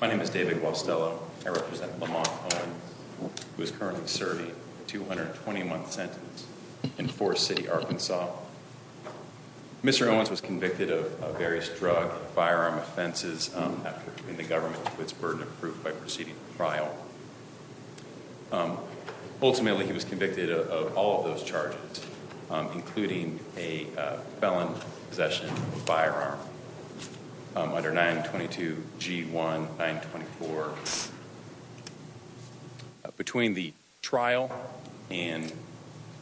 My name is David Guastello. I represent Lamont Owens, who is currently serving a 221-sentence in Forest City, Arkansas. Mr. Owens was convicted of various drug and firearm offenses after bringing the government to its burden of proof by proceeding to trial. Ultimately, he was convicted of all of those charges, including a felon possession of a firearm under 922 G1 924. Between the trial and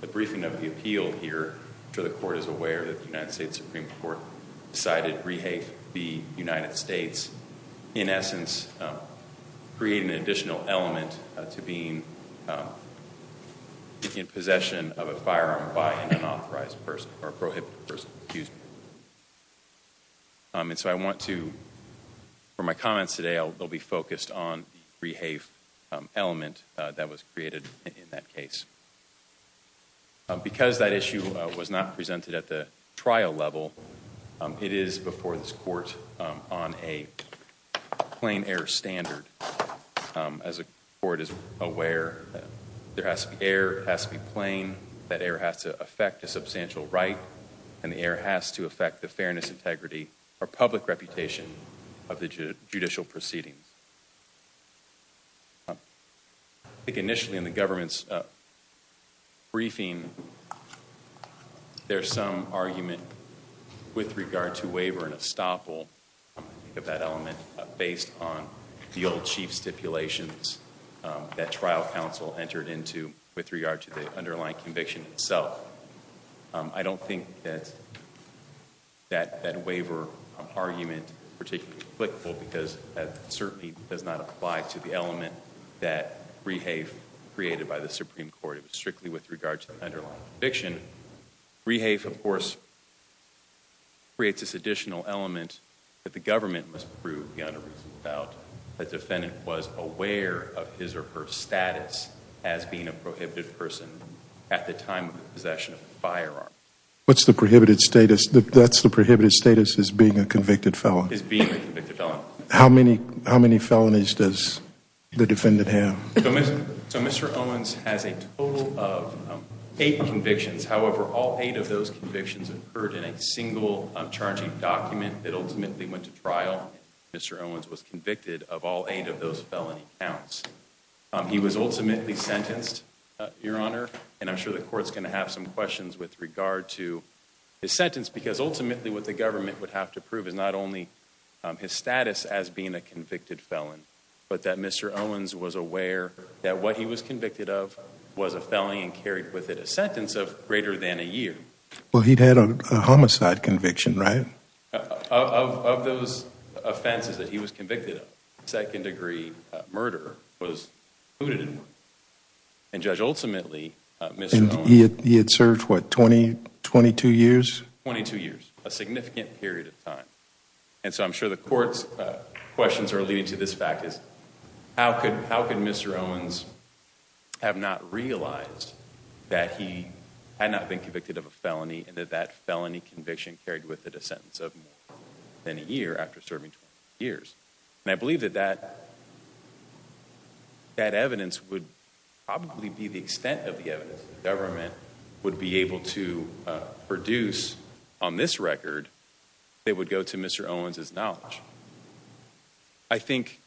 the briefing of the appeal here, the court is aware that the United States Supreme Court decided to re-hate the United States, in essence creating an additional element to being in possession of a firearm by an unauthorized person or a prohibited person. And so I want to, for my comments today, I'll be focused on the re-hate element that was created in that case. Because that issue was not presented at the trial level, it is before this court on a plain error standard. As the court is aware, there has to be error, it has to be plain, that error has to affect a substantial right, and the error has to affect the fairness, integrity, or public reputation of the judicial proceedings. I think initially in the government's briefing, there's some argument with regard to waiver and estoppel of that element based on the old chief stipulations that trial counsel entered into with regard to the underlying conviction itself. I don't think that that waiver argument is particularly because that certainly does not apply to the element that re-hate created by the Supreme Court. It was strictly with regard to the underlying conviction. Re-hate, of course, creates this additional element that the government must prove beyond a reasonable doubt that the defendant was aware of his or her status as being a prohibited person at the time of possession of a firearm. What's the prohibited status? That's the prohibited status as being a convicted felon? As being a convicted felon. How many felonies does the defendant have? So Mr. Owens has a total of eight convictions. However, all eight of those convictions occurred in a single charging document that ultimately went to trial. Mr. Owens was convicted of all eight of those felony counts. He was ultimately sentenced, Your Honor, and I'm sure the court's going to have some questions with regard to his sentence because ultimately what the government would have to prove is not only his status as being a convicted felon, but that Mr. Owens was aware that what he was convicted of was a felony and carried with it a sentence of greater than a year. Well, he'd had a homicide conviction, right? Of those offenses that he was convicted of, second-degree murder was included in one. And Judge, ultimately, Mr. Owens... And he had served, what, 22 years? 22 years, a significant period of time. And so I'm sure the court's questions are leading to this fact is, how could Mr. Owens have not realized that he had not been convicted of a felony and that that felony conviction carried with it a sentence of more than a year after serving 22 years? And I believe that that evidence would probably be the extent of the evidence the government would be able to produce on this record that would go to Mr. Owens' knowledge. I think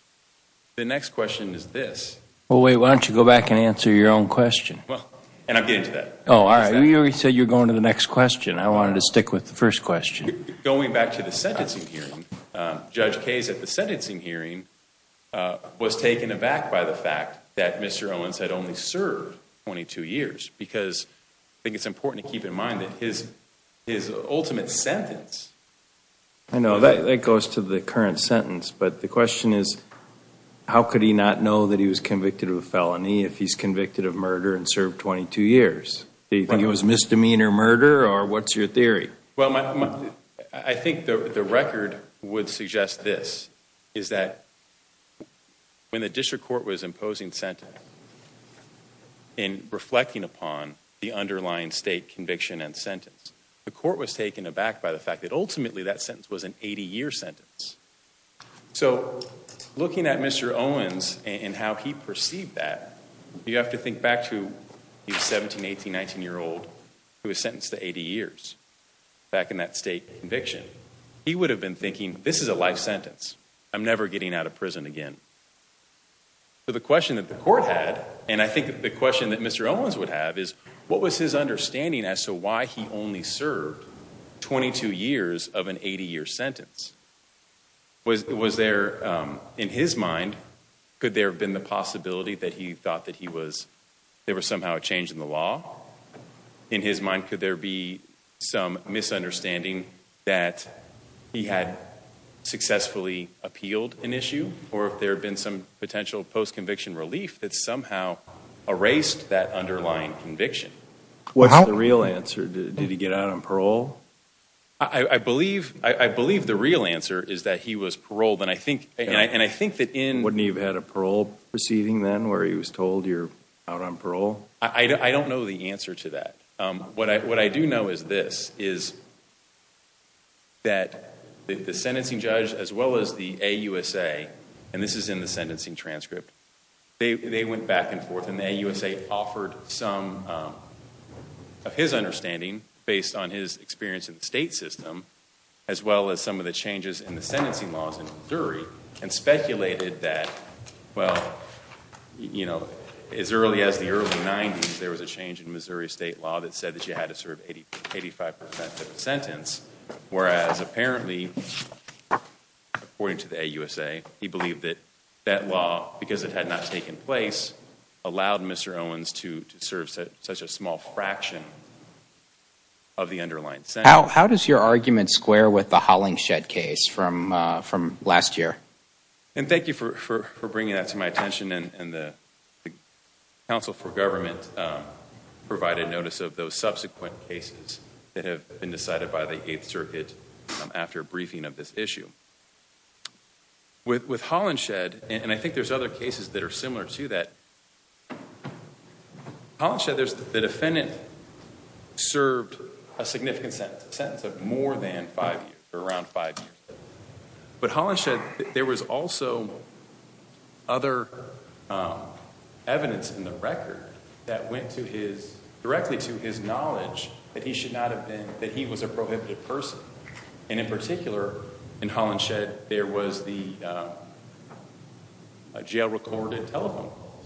the next question is this. Well, wait, why don't you go back and answer your own question? And I'll get into that. Oh, all right. You already said you were going to the next question. I wanted to stick with the first question. Going back to the sentencing hearing, Judge Case, at the sentencing hearing, was taken aback by the fact that Mr. Owens had only served 22 years because I think it's important to keep in mind that his ultimate sentence... I know. That goes to the current sentence. But the question is, how could he not know that he was convicted of a felony if he's convicted of murder and served 22 years? Do you think it was misdemeanor murder, or what's your theory? Well, I think the record would suggest this, is that when the district court was imposing sentencing the court was taken aback by the fact that ultimately that sentence was an 80-year sentence. So looking at Mr. Owens and how he perceived that, you have to think back to the 17-, 18-, 19-year-old who was sentenced to 80 years back in that state conviction. He would have been thinking, this is a life sentence. I'm never getting out of prison again. So the question that the court had, and I think the question that Mr. Owens would have, is what was his understanding as to why he only served 22 years of an 80-year sentence? Was there, in his mind, could there have been the possibility that he thought that there was somehow a change in the law? In his mind, could there be some misunderstanding that he had successfully appealed an issue? Or if there had been some potential post-conviction relief that somehow erased that underlying conviction? What's the real answer? Did he get out on parole? I believe the real answer is that he was paroled. And I think that in— Wouldn't he have had a parole proceeding then where he was told, you're out on parole? I don't know the answer to that. What I do know is this, is that the sentencing judge as well as the AUSA, and this is in the sentencing transcript, they went back and forth, and the AUSA offered some of his understanding based on his experience in the state system, as well as some of the changes in the sentencing laws in Missouri, and speculated that, well, you know, as early as the early 90s, there was a change in Missouri state law that said that you had to serve 85 percent of the sentence, whereas apparently, according to the AUSA, he believed that that law, because it had not taken place, allowed Mr. Owens to serve such a small fraction of the underlying sentence. How does your argument square with the Hollingshed case from last year? And thank you for bringing that to my attention, and the Council for Government provided notice of those subsequent cases that have been decided by the Eighth Circuit after a briefing of this issue. With Hollingshed, and I think there's other cases that are similar to that, Hollingshed, the defendant served a significant sentence, a sentence of more than five years, around five years. But Hollingshed, there was also other evidence in the record that went directly to his knowledge that he should not have been, that he was a prohibited person, and in particular, in Hollingshed, there was the jail-recorded telephone calls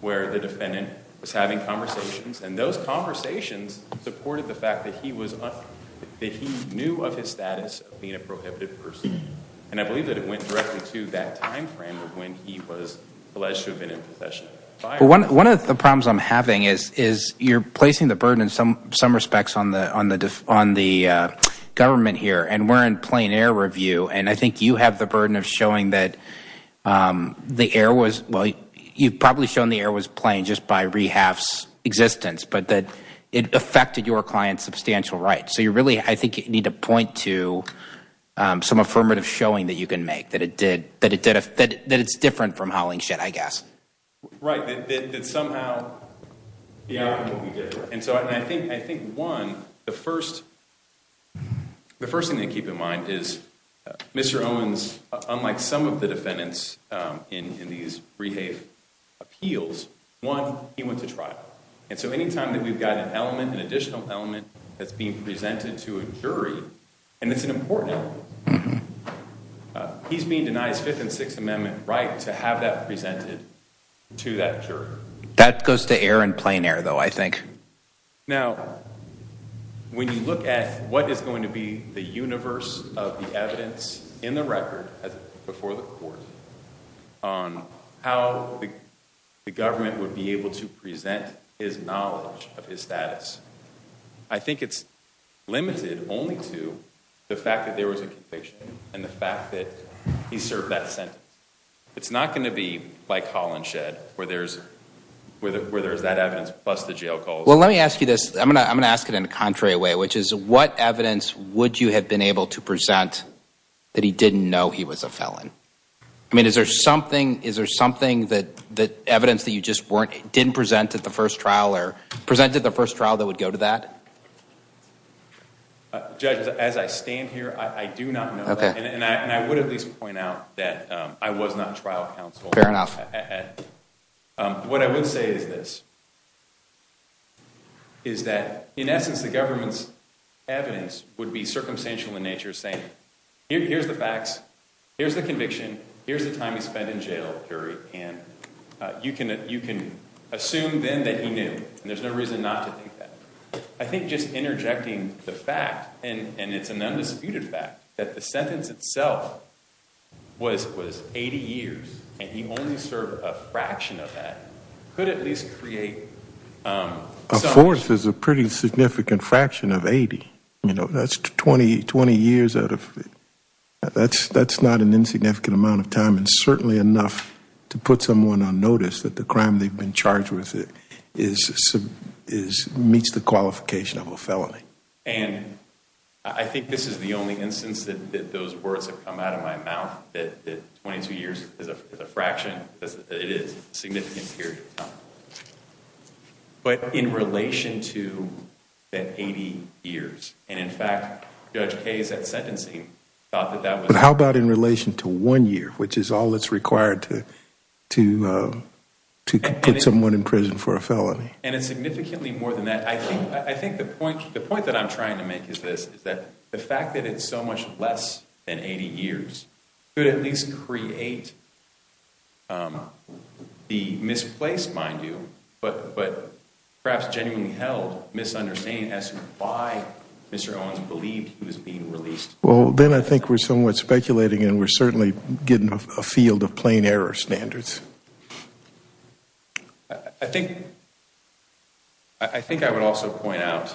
where the defendant was having conversations, and those conversations supported the fact that he was, that he knew of his status of being a prohibited person. And I believe that it went directly to that time frame of when he was alleged to have been in possession. One of the problems I'm having is you're placing the burden in some respects on the government here, and we're in plain air review, and I think you have the burden of showing that the air was, well, you've probably shown the air was plain just by rehab's existence, but that it affected your client's substantial rights. So you really, I think, need to point to some affirmative showing that you can make, that it's different from Hollingshed, I guess. Right, that somehow the outcome will be different. And so I think, one, the first thing to keep in mind is Mr. Owens, unlike some of the defendants in these rehab appeals, one, he went to trial. And so any time that we've got an element, an additional element that's being presented to a jury, and it's an important element, he's being denied his Fifth and Sixth Amendment right to have that presented to that jury. That goes to air and plain air, though, I think. Now, when you look at what is going to be the universe of the evidence in the record before the court on how the government would be able to present his knowledge of his status, I think it's limited only to the fact that there was a conviction and the fact that he served that sentence. It's not going to be like Hollingshed, where there's that evidence plus the jail calls. Well, let me ask you this. I'm going to ask it in a contrary way, which is, what evidence would you have been able to present that he didn't know he was a felon? I mean, is there something, is there something that evidence that you just didn't present at the first trial or presented at the first trial that would go to that? Judge, as I stand here, I do not know. And I would at least point out that I was not trial counsel. Fair enough. What I would say is this, is that, in essence, the government's evidence would be circumstantial in nature, saying, here's the facts, here's the conviction, here's the time he spent in jail, and you can assume then that he knew, and there's no reason not to think that. I think just interjecting the fact, and it's an undisputed fact, that the sentence itself was 80 years, and he only served a fraction of that, could at least create some- A fourth is a pretty significant fraction of 80. You know, that's 20 years out of, that's not an insignificant amount of time, and certainly enough to put someone on notice that the crime they've been charged with meets the qualification of a felony. And I think this is the only instance that those words have come out of my mouth, that 22 years is a fraction, it is a significant period of time. But in relation to the 80 years, and in fact, Judge Kaye's sentencing thought that that was- But how about in relation to one year, which is all that's required to put someone in prison for a felony? And it's significantly more than that. I think the point that I'm trying to make is this, is that the fact that it's so much less than 80 years could at least create the misplaced, mind you, but perhaps genuinely held misunderstanding as to why Mr. Owens believed he was being released. Well, then I think we're somewhat speculating, and we're certainly getting a field of plain error standards. I think I would also point out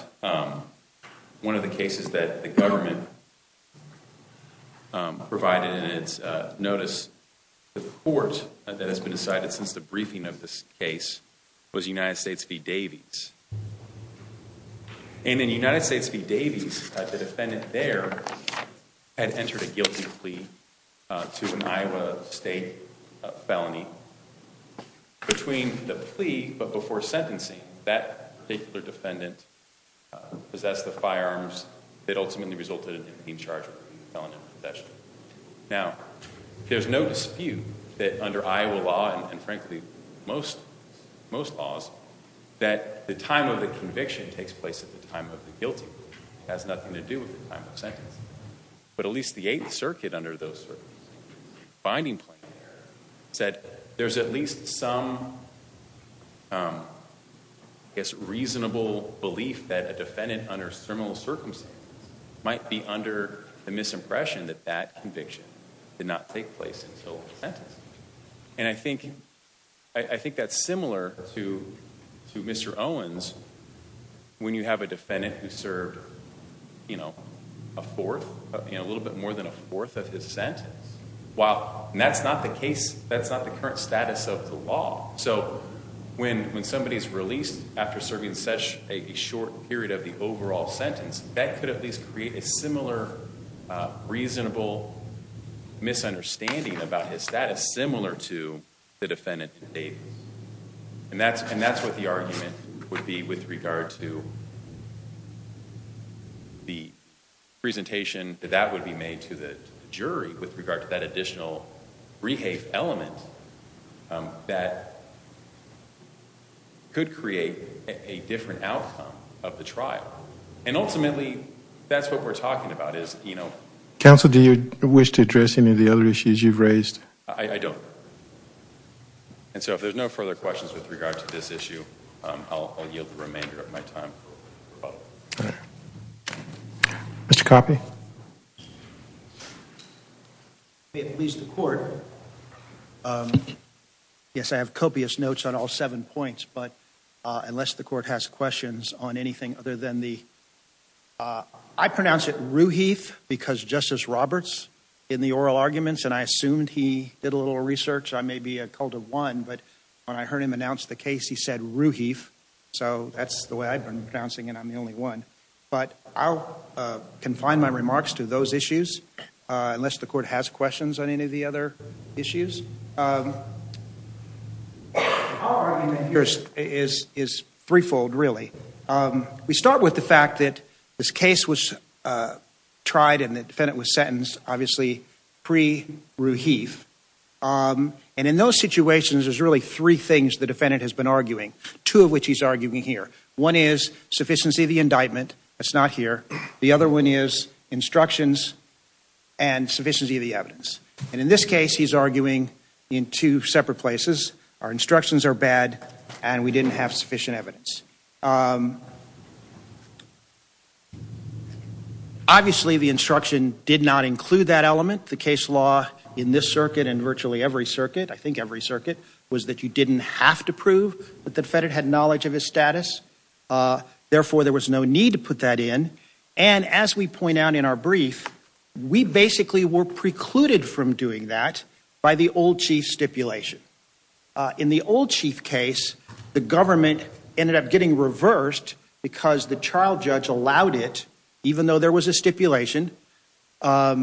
one of the cases that the government provided in its notice to the court that has been decided since the briefing of this case was United States v. Davies. And in United States v. Davies, the defendant there had entered a guilty plea to an Iowa state felony. Between the plea, but before sentencing, that particular defendant possessed the firearms that ultimately resulted in him being charged with felony possession. Now, there's no dispute that under Iowa law, and frankly most laws, that the time of the conviction takes place at the time of the guilty plea. It has nothing to do with the time of sentence. But at least the Eighth Circuit under those findings said there's at least some reasonable belief that a defendant under terminal circumstances might be under the misimpression that that conviction did not take place until the sentence. And I think that's similar to Mr. Owens when you have a defendant who served a little bit more than a fourth of his sentence. And that's not the case, that's not the current status of the law. So when somebody's released after serving such a short period of the overall sentence, that could at least create a similar reasonable misunderstanding about his status, similar to the defendant in Davies. And that's what the argument would be with regard to the presentation that that would be made to the jury with regard to that additional rehave element that could create a different outcome of the trial. And ultimately, that's what we're talking about. Counsel, do you wish to address any of the other issues you've raised? I don't. And so if there's no further questions with regard to this issue, I'll yield the remainder of my time. All right. Mr. Coffey? If it pleases the Court, yes, I have copious notes on all seven points, but unless the Court has questions on anything other than the – I pronounce it rooheef because Justice Roberts, in the oral arguments, and I assumed he did a little research, I may be occult of one, but when I heard him announce the case, he said rooheef. So that's the way I've been pronouncing it, and I'm the only one. But I'll confine my remarks to those issues unless the Court has questions on any of the other issues. Our argument here is threefold, really. We start with the fact that this case was tried and the defendant was sentenced, obviously, pre-rooheef. And in those situations, there's really three things the defendant has been arguing, two of which he's arguing here. One is sufficiency of the indictment. That's not here. The other one is instructions and sufficiency of the evidence. And in this case, he's arguing in two separate places. Our instructions are bad, and we didn't have sufficient evidence. Obviously, the instruction did not include that element. The case law in this circuit and virtually every circuit, I think every circuit, was that you didn't have to prove that the defendant had knowledge of his status. Therefore, there was no need to put that in. And as we point out in our brief, we basically were precluded from doing that by the old chief stipulation. In the old chief case, the government ended up getting reversed because the trial judge allowed it, even though there was a stipulation, or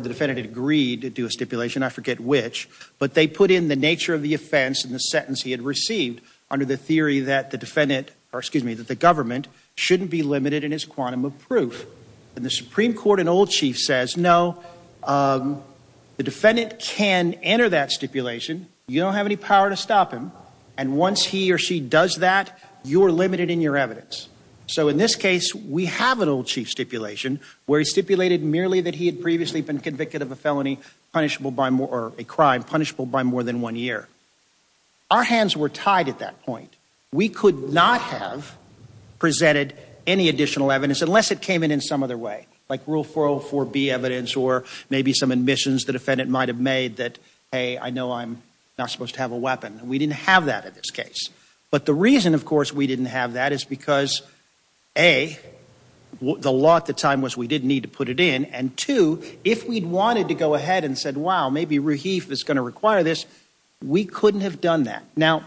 the defendant had agreed to do a stipulation, I forget which, but they put in the nature of the offense and the sentence he had received under the theory that the government shouldn't be limited in his quantum of proof. And the Supreme Court and old chief says, no, the defendant can enter that stipulation. You don't have any power to stop him. And once he or she does that, you're limited in your evidence. So in this case, we have an old chief stipulation, where he stipulated merely that he had previously been convicted of a felony punishable by more, or a crime punishable by more than one year. Our hands were tied at that point. We could not have presented any additional evidence unless it came in in some other way, like Rule 404B evidence or maybe some admissions the defendant might have made that, hey, I know I'm not supposed to have a weapon. We didn't have that in this case. But the reason, of course, we didn't have that is because, A, the law at the time was we didn't need to put it in. And, two, if we'd wanted to go ahead and said, wow, maybe Rahif is going to require this, we couldn't have done that. Now,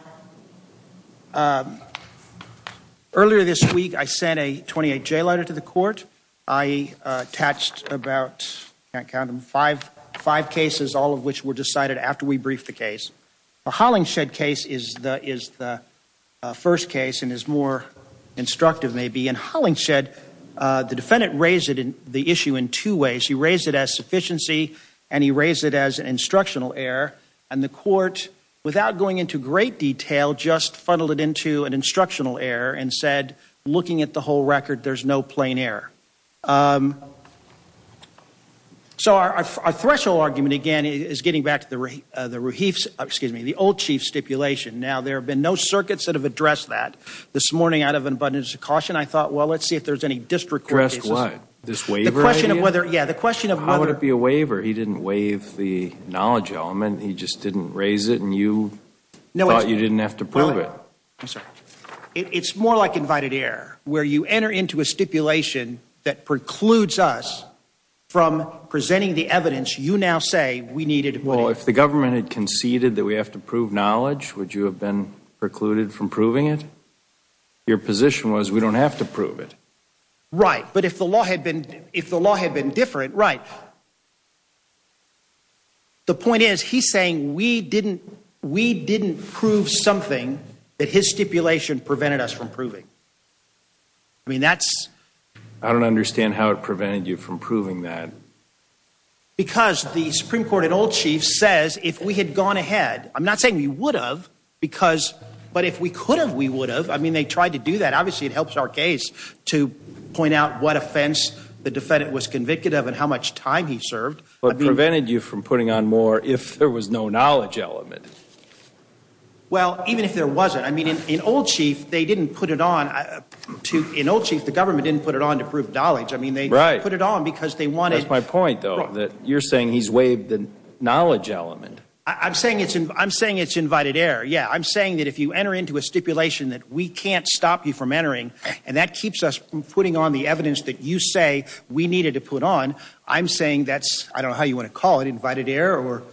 earlier this week I sent a 28-J letter to the court. I attached about, I can't count them, five cases, all of which were decided after we briefed the case. The Hollingshed case is the first case and is more instructive, maybe. And Hollingshed, the defendant raised the issue in two ways. He raised it as sufficiency and he raised it as an instructional error. And the court, without going into great detail, just funneled it into an instructional error and said, looking at the whole record, there's no plain error. So our threshold argument, again, is getting back to the Rahif's, excuse me, the old chief stipulation. Now, there have been no circuits that have addressed that. This morning, out of an abundance of caution, I thought, well, let's see if there's any district court cases. The question of whether, yeah, the question of whether. How would it be a waiver? He didn't waive the knowledge element. He just didn't raise it and you thought you didn't have to prove it. I'm sorry. It's more like invited error, where you enter into a stipulation that precludes us from presenting the evidence you now say we needed. Well, if the government had conceded that we have to prove knowledge, would you have been precluded from proving it? Your position was we don't have to prove it. Right. But if the law had been different, right. The point is he's saying we didn't, we didn't prove something that his stipulation prevented us from proving. I mean, that's. I don't understand how it prevented you from proving that. Because the Supreme Court and old chief says if we had gone ahead, I'm not saying we would have, because, but if we could have, we would have. I mean, they tried to do that. Obviously, it helps our case to point out what offense the defendant was convicted of and how much time he served. But prevented you from putting on more if there was no knowledge element. Well, even if there wasn't, I mean, in old chief, they didn't put it on to, in old chief, the government didn't put it on to prove knowledge. I mean, they put it on because they wanted. That's my point, though, that you're saying he's waived the knowledge element. I'm saying it's, I'm saying it's invited error. Yeah, I'm saying that if you enter into a stipulation that we can't stop you from entering. And that keeps us from putting on the evidence that you say we needed to put on. I'm saying that's, I don't know how you want to call it, invited error or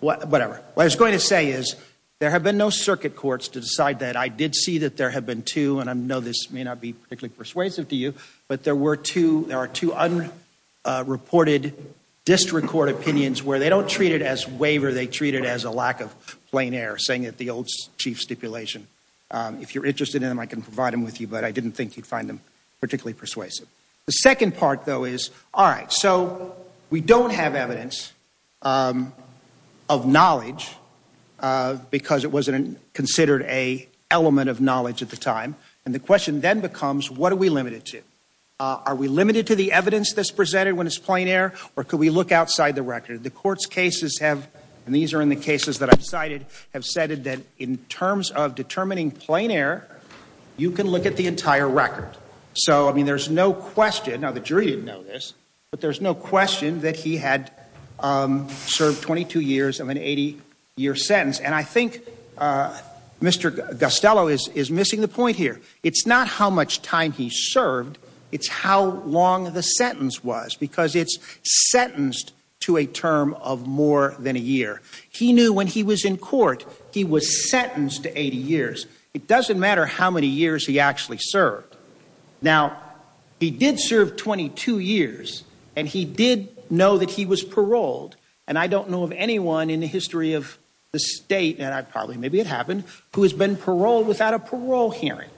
whatever. What I was going to say is there have been no circuit courts to decide that. I did see that there have been two. And I know this may not be particularly persuasive to you. But there were two. There are two unreported district court opinions where they don't treat it as waiver. They treat it as a lack of plain air, saying that the old chief stipulation. If you're interested in them, I can provide them with you. But I didn't think you'd find them particularly persuasive. The second part, though, is, all right, so we don't have evidence of knowledge because it wasn't considered a element of knowledge at the time. And the question then becomes, what are we limited to? Are we limited to the evidence that's presented when it's plain air? Or could we look outside the record? The court's cases have, and these are in the cases that I've cited, have said that in terms of determining plain air, you can look at the entire record. So, I mean, there's no question. Now, the jury didn't know this. But there's no question that he had served 22 years of an 80-year sentence. And I think Mr. Costello is missing the point here. It's not how much time he served. It's how long the sentence was because it's sentenced to a term of more than a year. He knew when he was in court, he was sentenced to 80 years. It doesn't matter how many years he actually served. Now, he did serve 22 years. And he did know that he was paroled. And I don't know of anyone in the history of the state, and I probably, maybe it happened, who has been paroled without a parole hearing.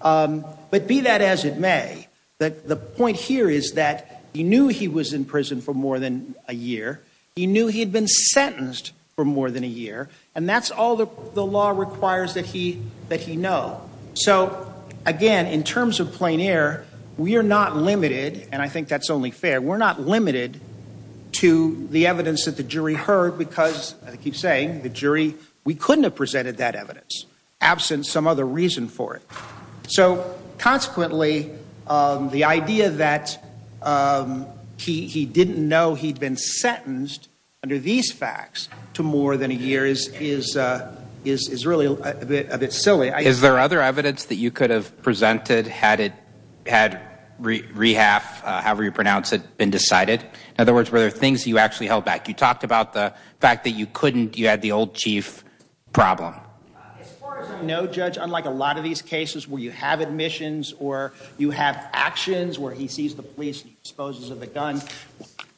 But be that as it may, the point here is that he knew he was in prison for more than a year. He knew he had been sentenced for more than a year. And that's all the law requires that he know. So, again, in terms of plein air, we are not limited, and I think that's only fair, we're not limited to the evidence that the jury heard because, as I keep saying, the jury, we couldn't have presented that evidence, absent some other reason for it. So, consequently, the idea that he didn't know he'd been sentenced under these facts to more than a year is really a bit silly. Is there other evidence that you could have presented had rehab, however you pronounce it, been decided? In other words, were there things you actually held back? You talked about the fact that you couldn't, you had the old chief problem. As far as I know, Judge, unlike a lot of these cases where you have admissions or you have actions, where he sees the police and he disposes of the gun,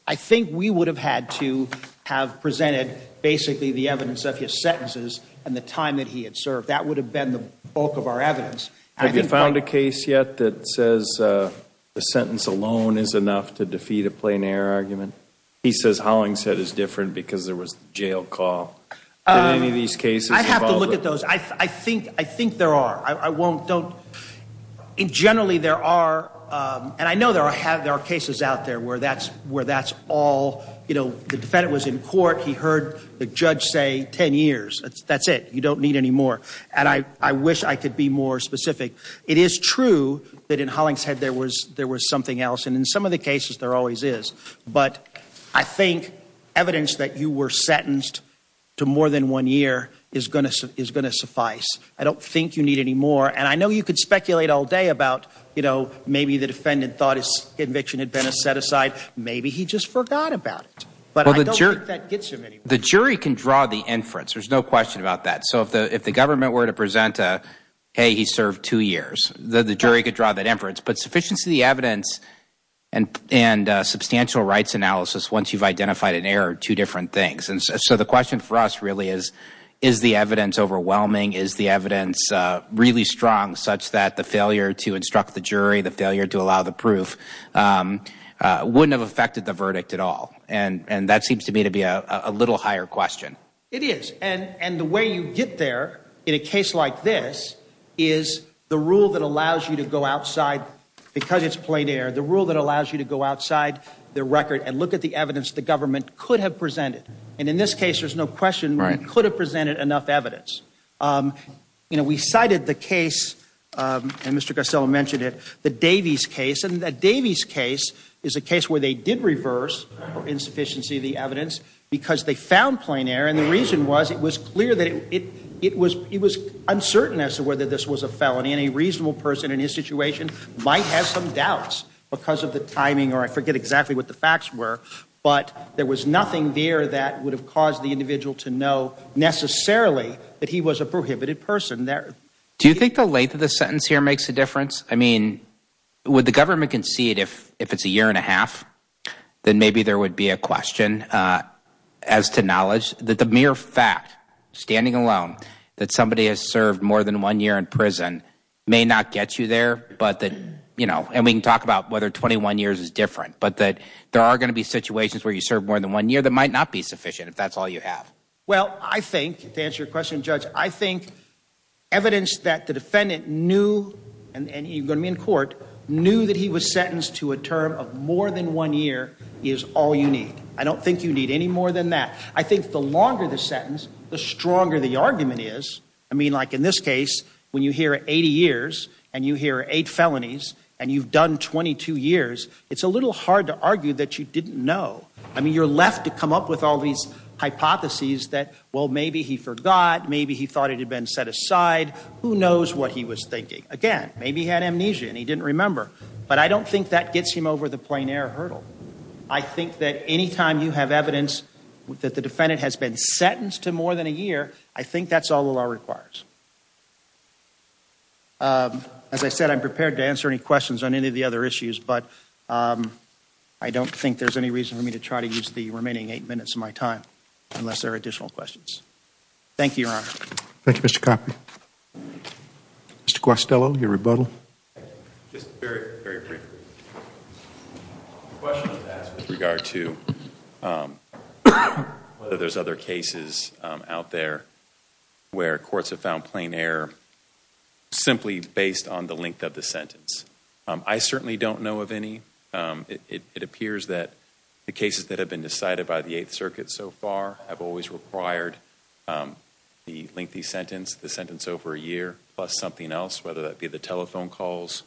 I think we would have had to have presented basically the evidence of his sentences and the time that he had served. That would have been the bulk of our evidence. Have you found a case yet that says the sentence alone is enough to defeat a plein air argument? He says Hollingshead is different because there was jail call in any of these cases. I'd have to look at those. I think there are. I won't, don't. Generally, there are, and I know there are cases out there where that's all, you know, the defendant was in court, he heard the judge say 10 years. That's it. You don't need any more. And I wish I could be more specific. It is true that in Hollingshead there was something else, and in some of the cases there always is. But I think evidence that you were sentenced to more than one year is going to suffice. I don't think you need any more. And I know you could speculate all day about, you know, maybe the defendant thought his conviction had been a set aside. Maybe he just forgot about it. But I don't think that gets him anymore. The jury can draw the inference. There's no question about that. So if the government were to present a, hey, he served two years, the jury could draw that inference. But sufficiency of the evidence and substantial rights analysis once you've identified an error are two different things. And so the question for us really is, is the evidence overwhelming? Is the evidence really strong such that the failure to instruct the jury, the failure to allow the proof, wouldn't have affected the verdict at all? And that seems to me to be a little higher question. It is. And the way you get there in a case like this is the rule that allows you to go outside, because it's plein air, the rule that allows you to go outside the record and look at the evidence the government could have presented. And in this case, there's no question we could have presented enough evidence. You know, we cited the case, and Mr. Garcello mentioned it, the Davies case. And the Davies case is a case where they did reverse insufficiency of the evidence because they found plein air. And the reason was it was clear that it was uncertain as to whether this was a felony. And a reasonable person in his situation might have some doubts because of the timing, or I forget exactly what the facts were. But there was nothing there that would have caused the individual to know necessarily that he was a prohibited person there. Do you think the length of the sentence here makes a difference? I mean, would the government concede if it's a year and a half, then maybe there would be a question. As to knowledge, that the mere fact, standing alone, that somebody has served more than one year in prison may not get you there, but that, you know, and we can talk about whether 21 years is different, but that there are going to be situations where you serve more than one year that might not be sufficient if that's all you have. Well, I think, to answer your question, Judge, I think evidence that the defendant knew, and you're going to be in court, knew that he was sentenced to a term of more than one year is all you need. I don't think you need any more than that. I think the longer the sentence, the stronger the argument is. I mean, like in this case, when you hear 80 years and you hear eight felonies and you've done 22 years, it's a little hard to argue that you didn't know. I mean, you're left to come up with all these hypotheses that, well, maybe he forgot. Maybe he thought it had been set aside. Who knows what he was thinking? Again, maybe he had amnesia and he didn't remember, but I don't think that gets him over the plein air hurdle. I think that any time you have evidence that the defendant has been sentenced to more than a year, I think that's all the law requires. As I said, I'm prepared to answer any questions on any of the other issues, but I don't think there's any reason for me to try to use the remaining eight minutes of my time unless there are additional questions. Thank you, Your Honor. Thank you, Mr. Coffey. Mr. Costello, your rebuttal. Just very, very briefly. The question was asked with regard to whether there's other cases out there where courts have found plein air simply based on the length of the sentence. I certainly don't know of any. It appears that the cases that have been decided by the Eighth Circuit so far have always required the lengthy sentence, the sentence over a year plus something else, whether that be the telephone calls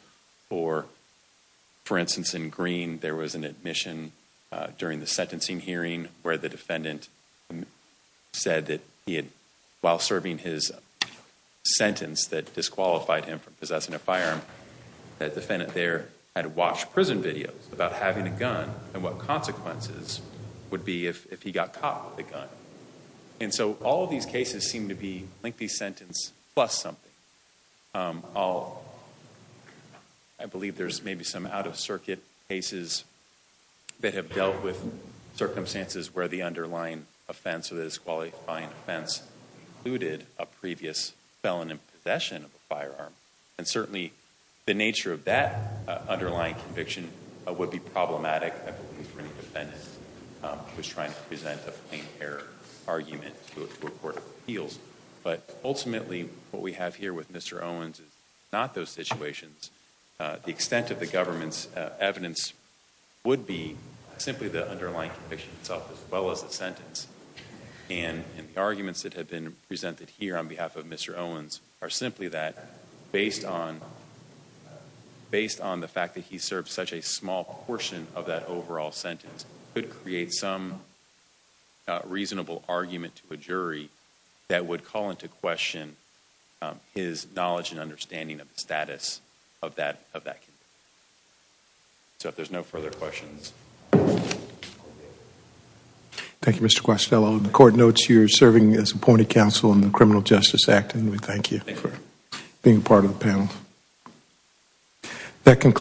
or, for instance, in Green, there was an admission during the sentencing hearing where the defendant said that while serving his sentence that disqualified him from possessing a firearm, that defendant there had watched prison videos about having a gun and what consequences would be if he got caught with a gun. And so all of these cases seem to be lengthy sentence plus something. I believe there's maybe some out-of-circuit cases that have dealt with circumstances where the underlying offense or the disqualifying offense included a previous felon in possession of a firearm, and certainly the nature of that underlying conviction would be problematic, I believe, if any defendant was trying to present a plein air argument to a court of appeals. But ultimately, what we have here with Mr. Owens is not those situations. The extent of the government's evidence would be simply the underlying conviction itself as well as the sentence. And the arguments that have been presented here on behalf of Mr. Owens are simply that, based on the fact that he served such a small portion of that overall sentence, could create some reasonable argument to a jury that would call into question his knowledge and understanding of the status of that conviction. So if there's no further questions. Thank you, Mr. Questello. The court notes you're serving as appointed counsel in the Criminal Justice Act, and we thank you for being part of the panel.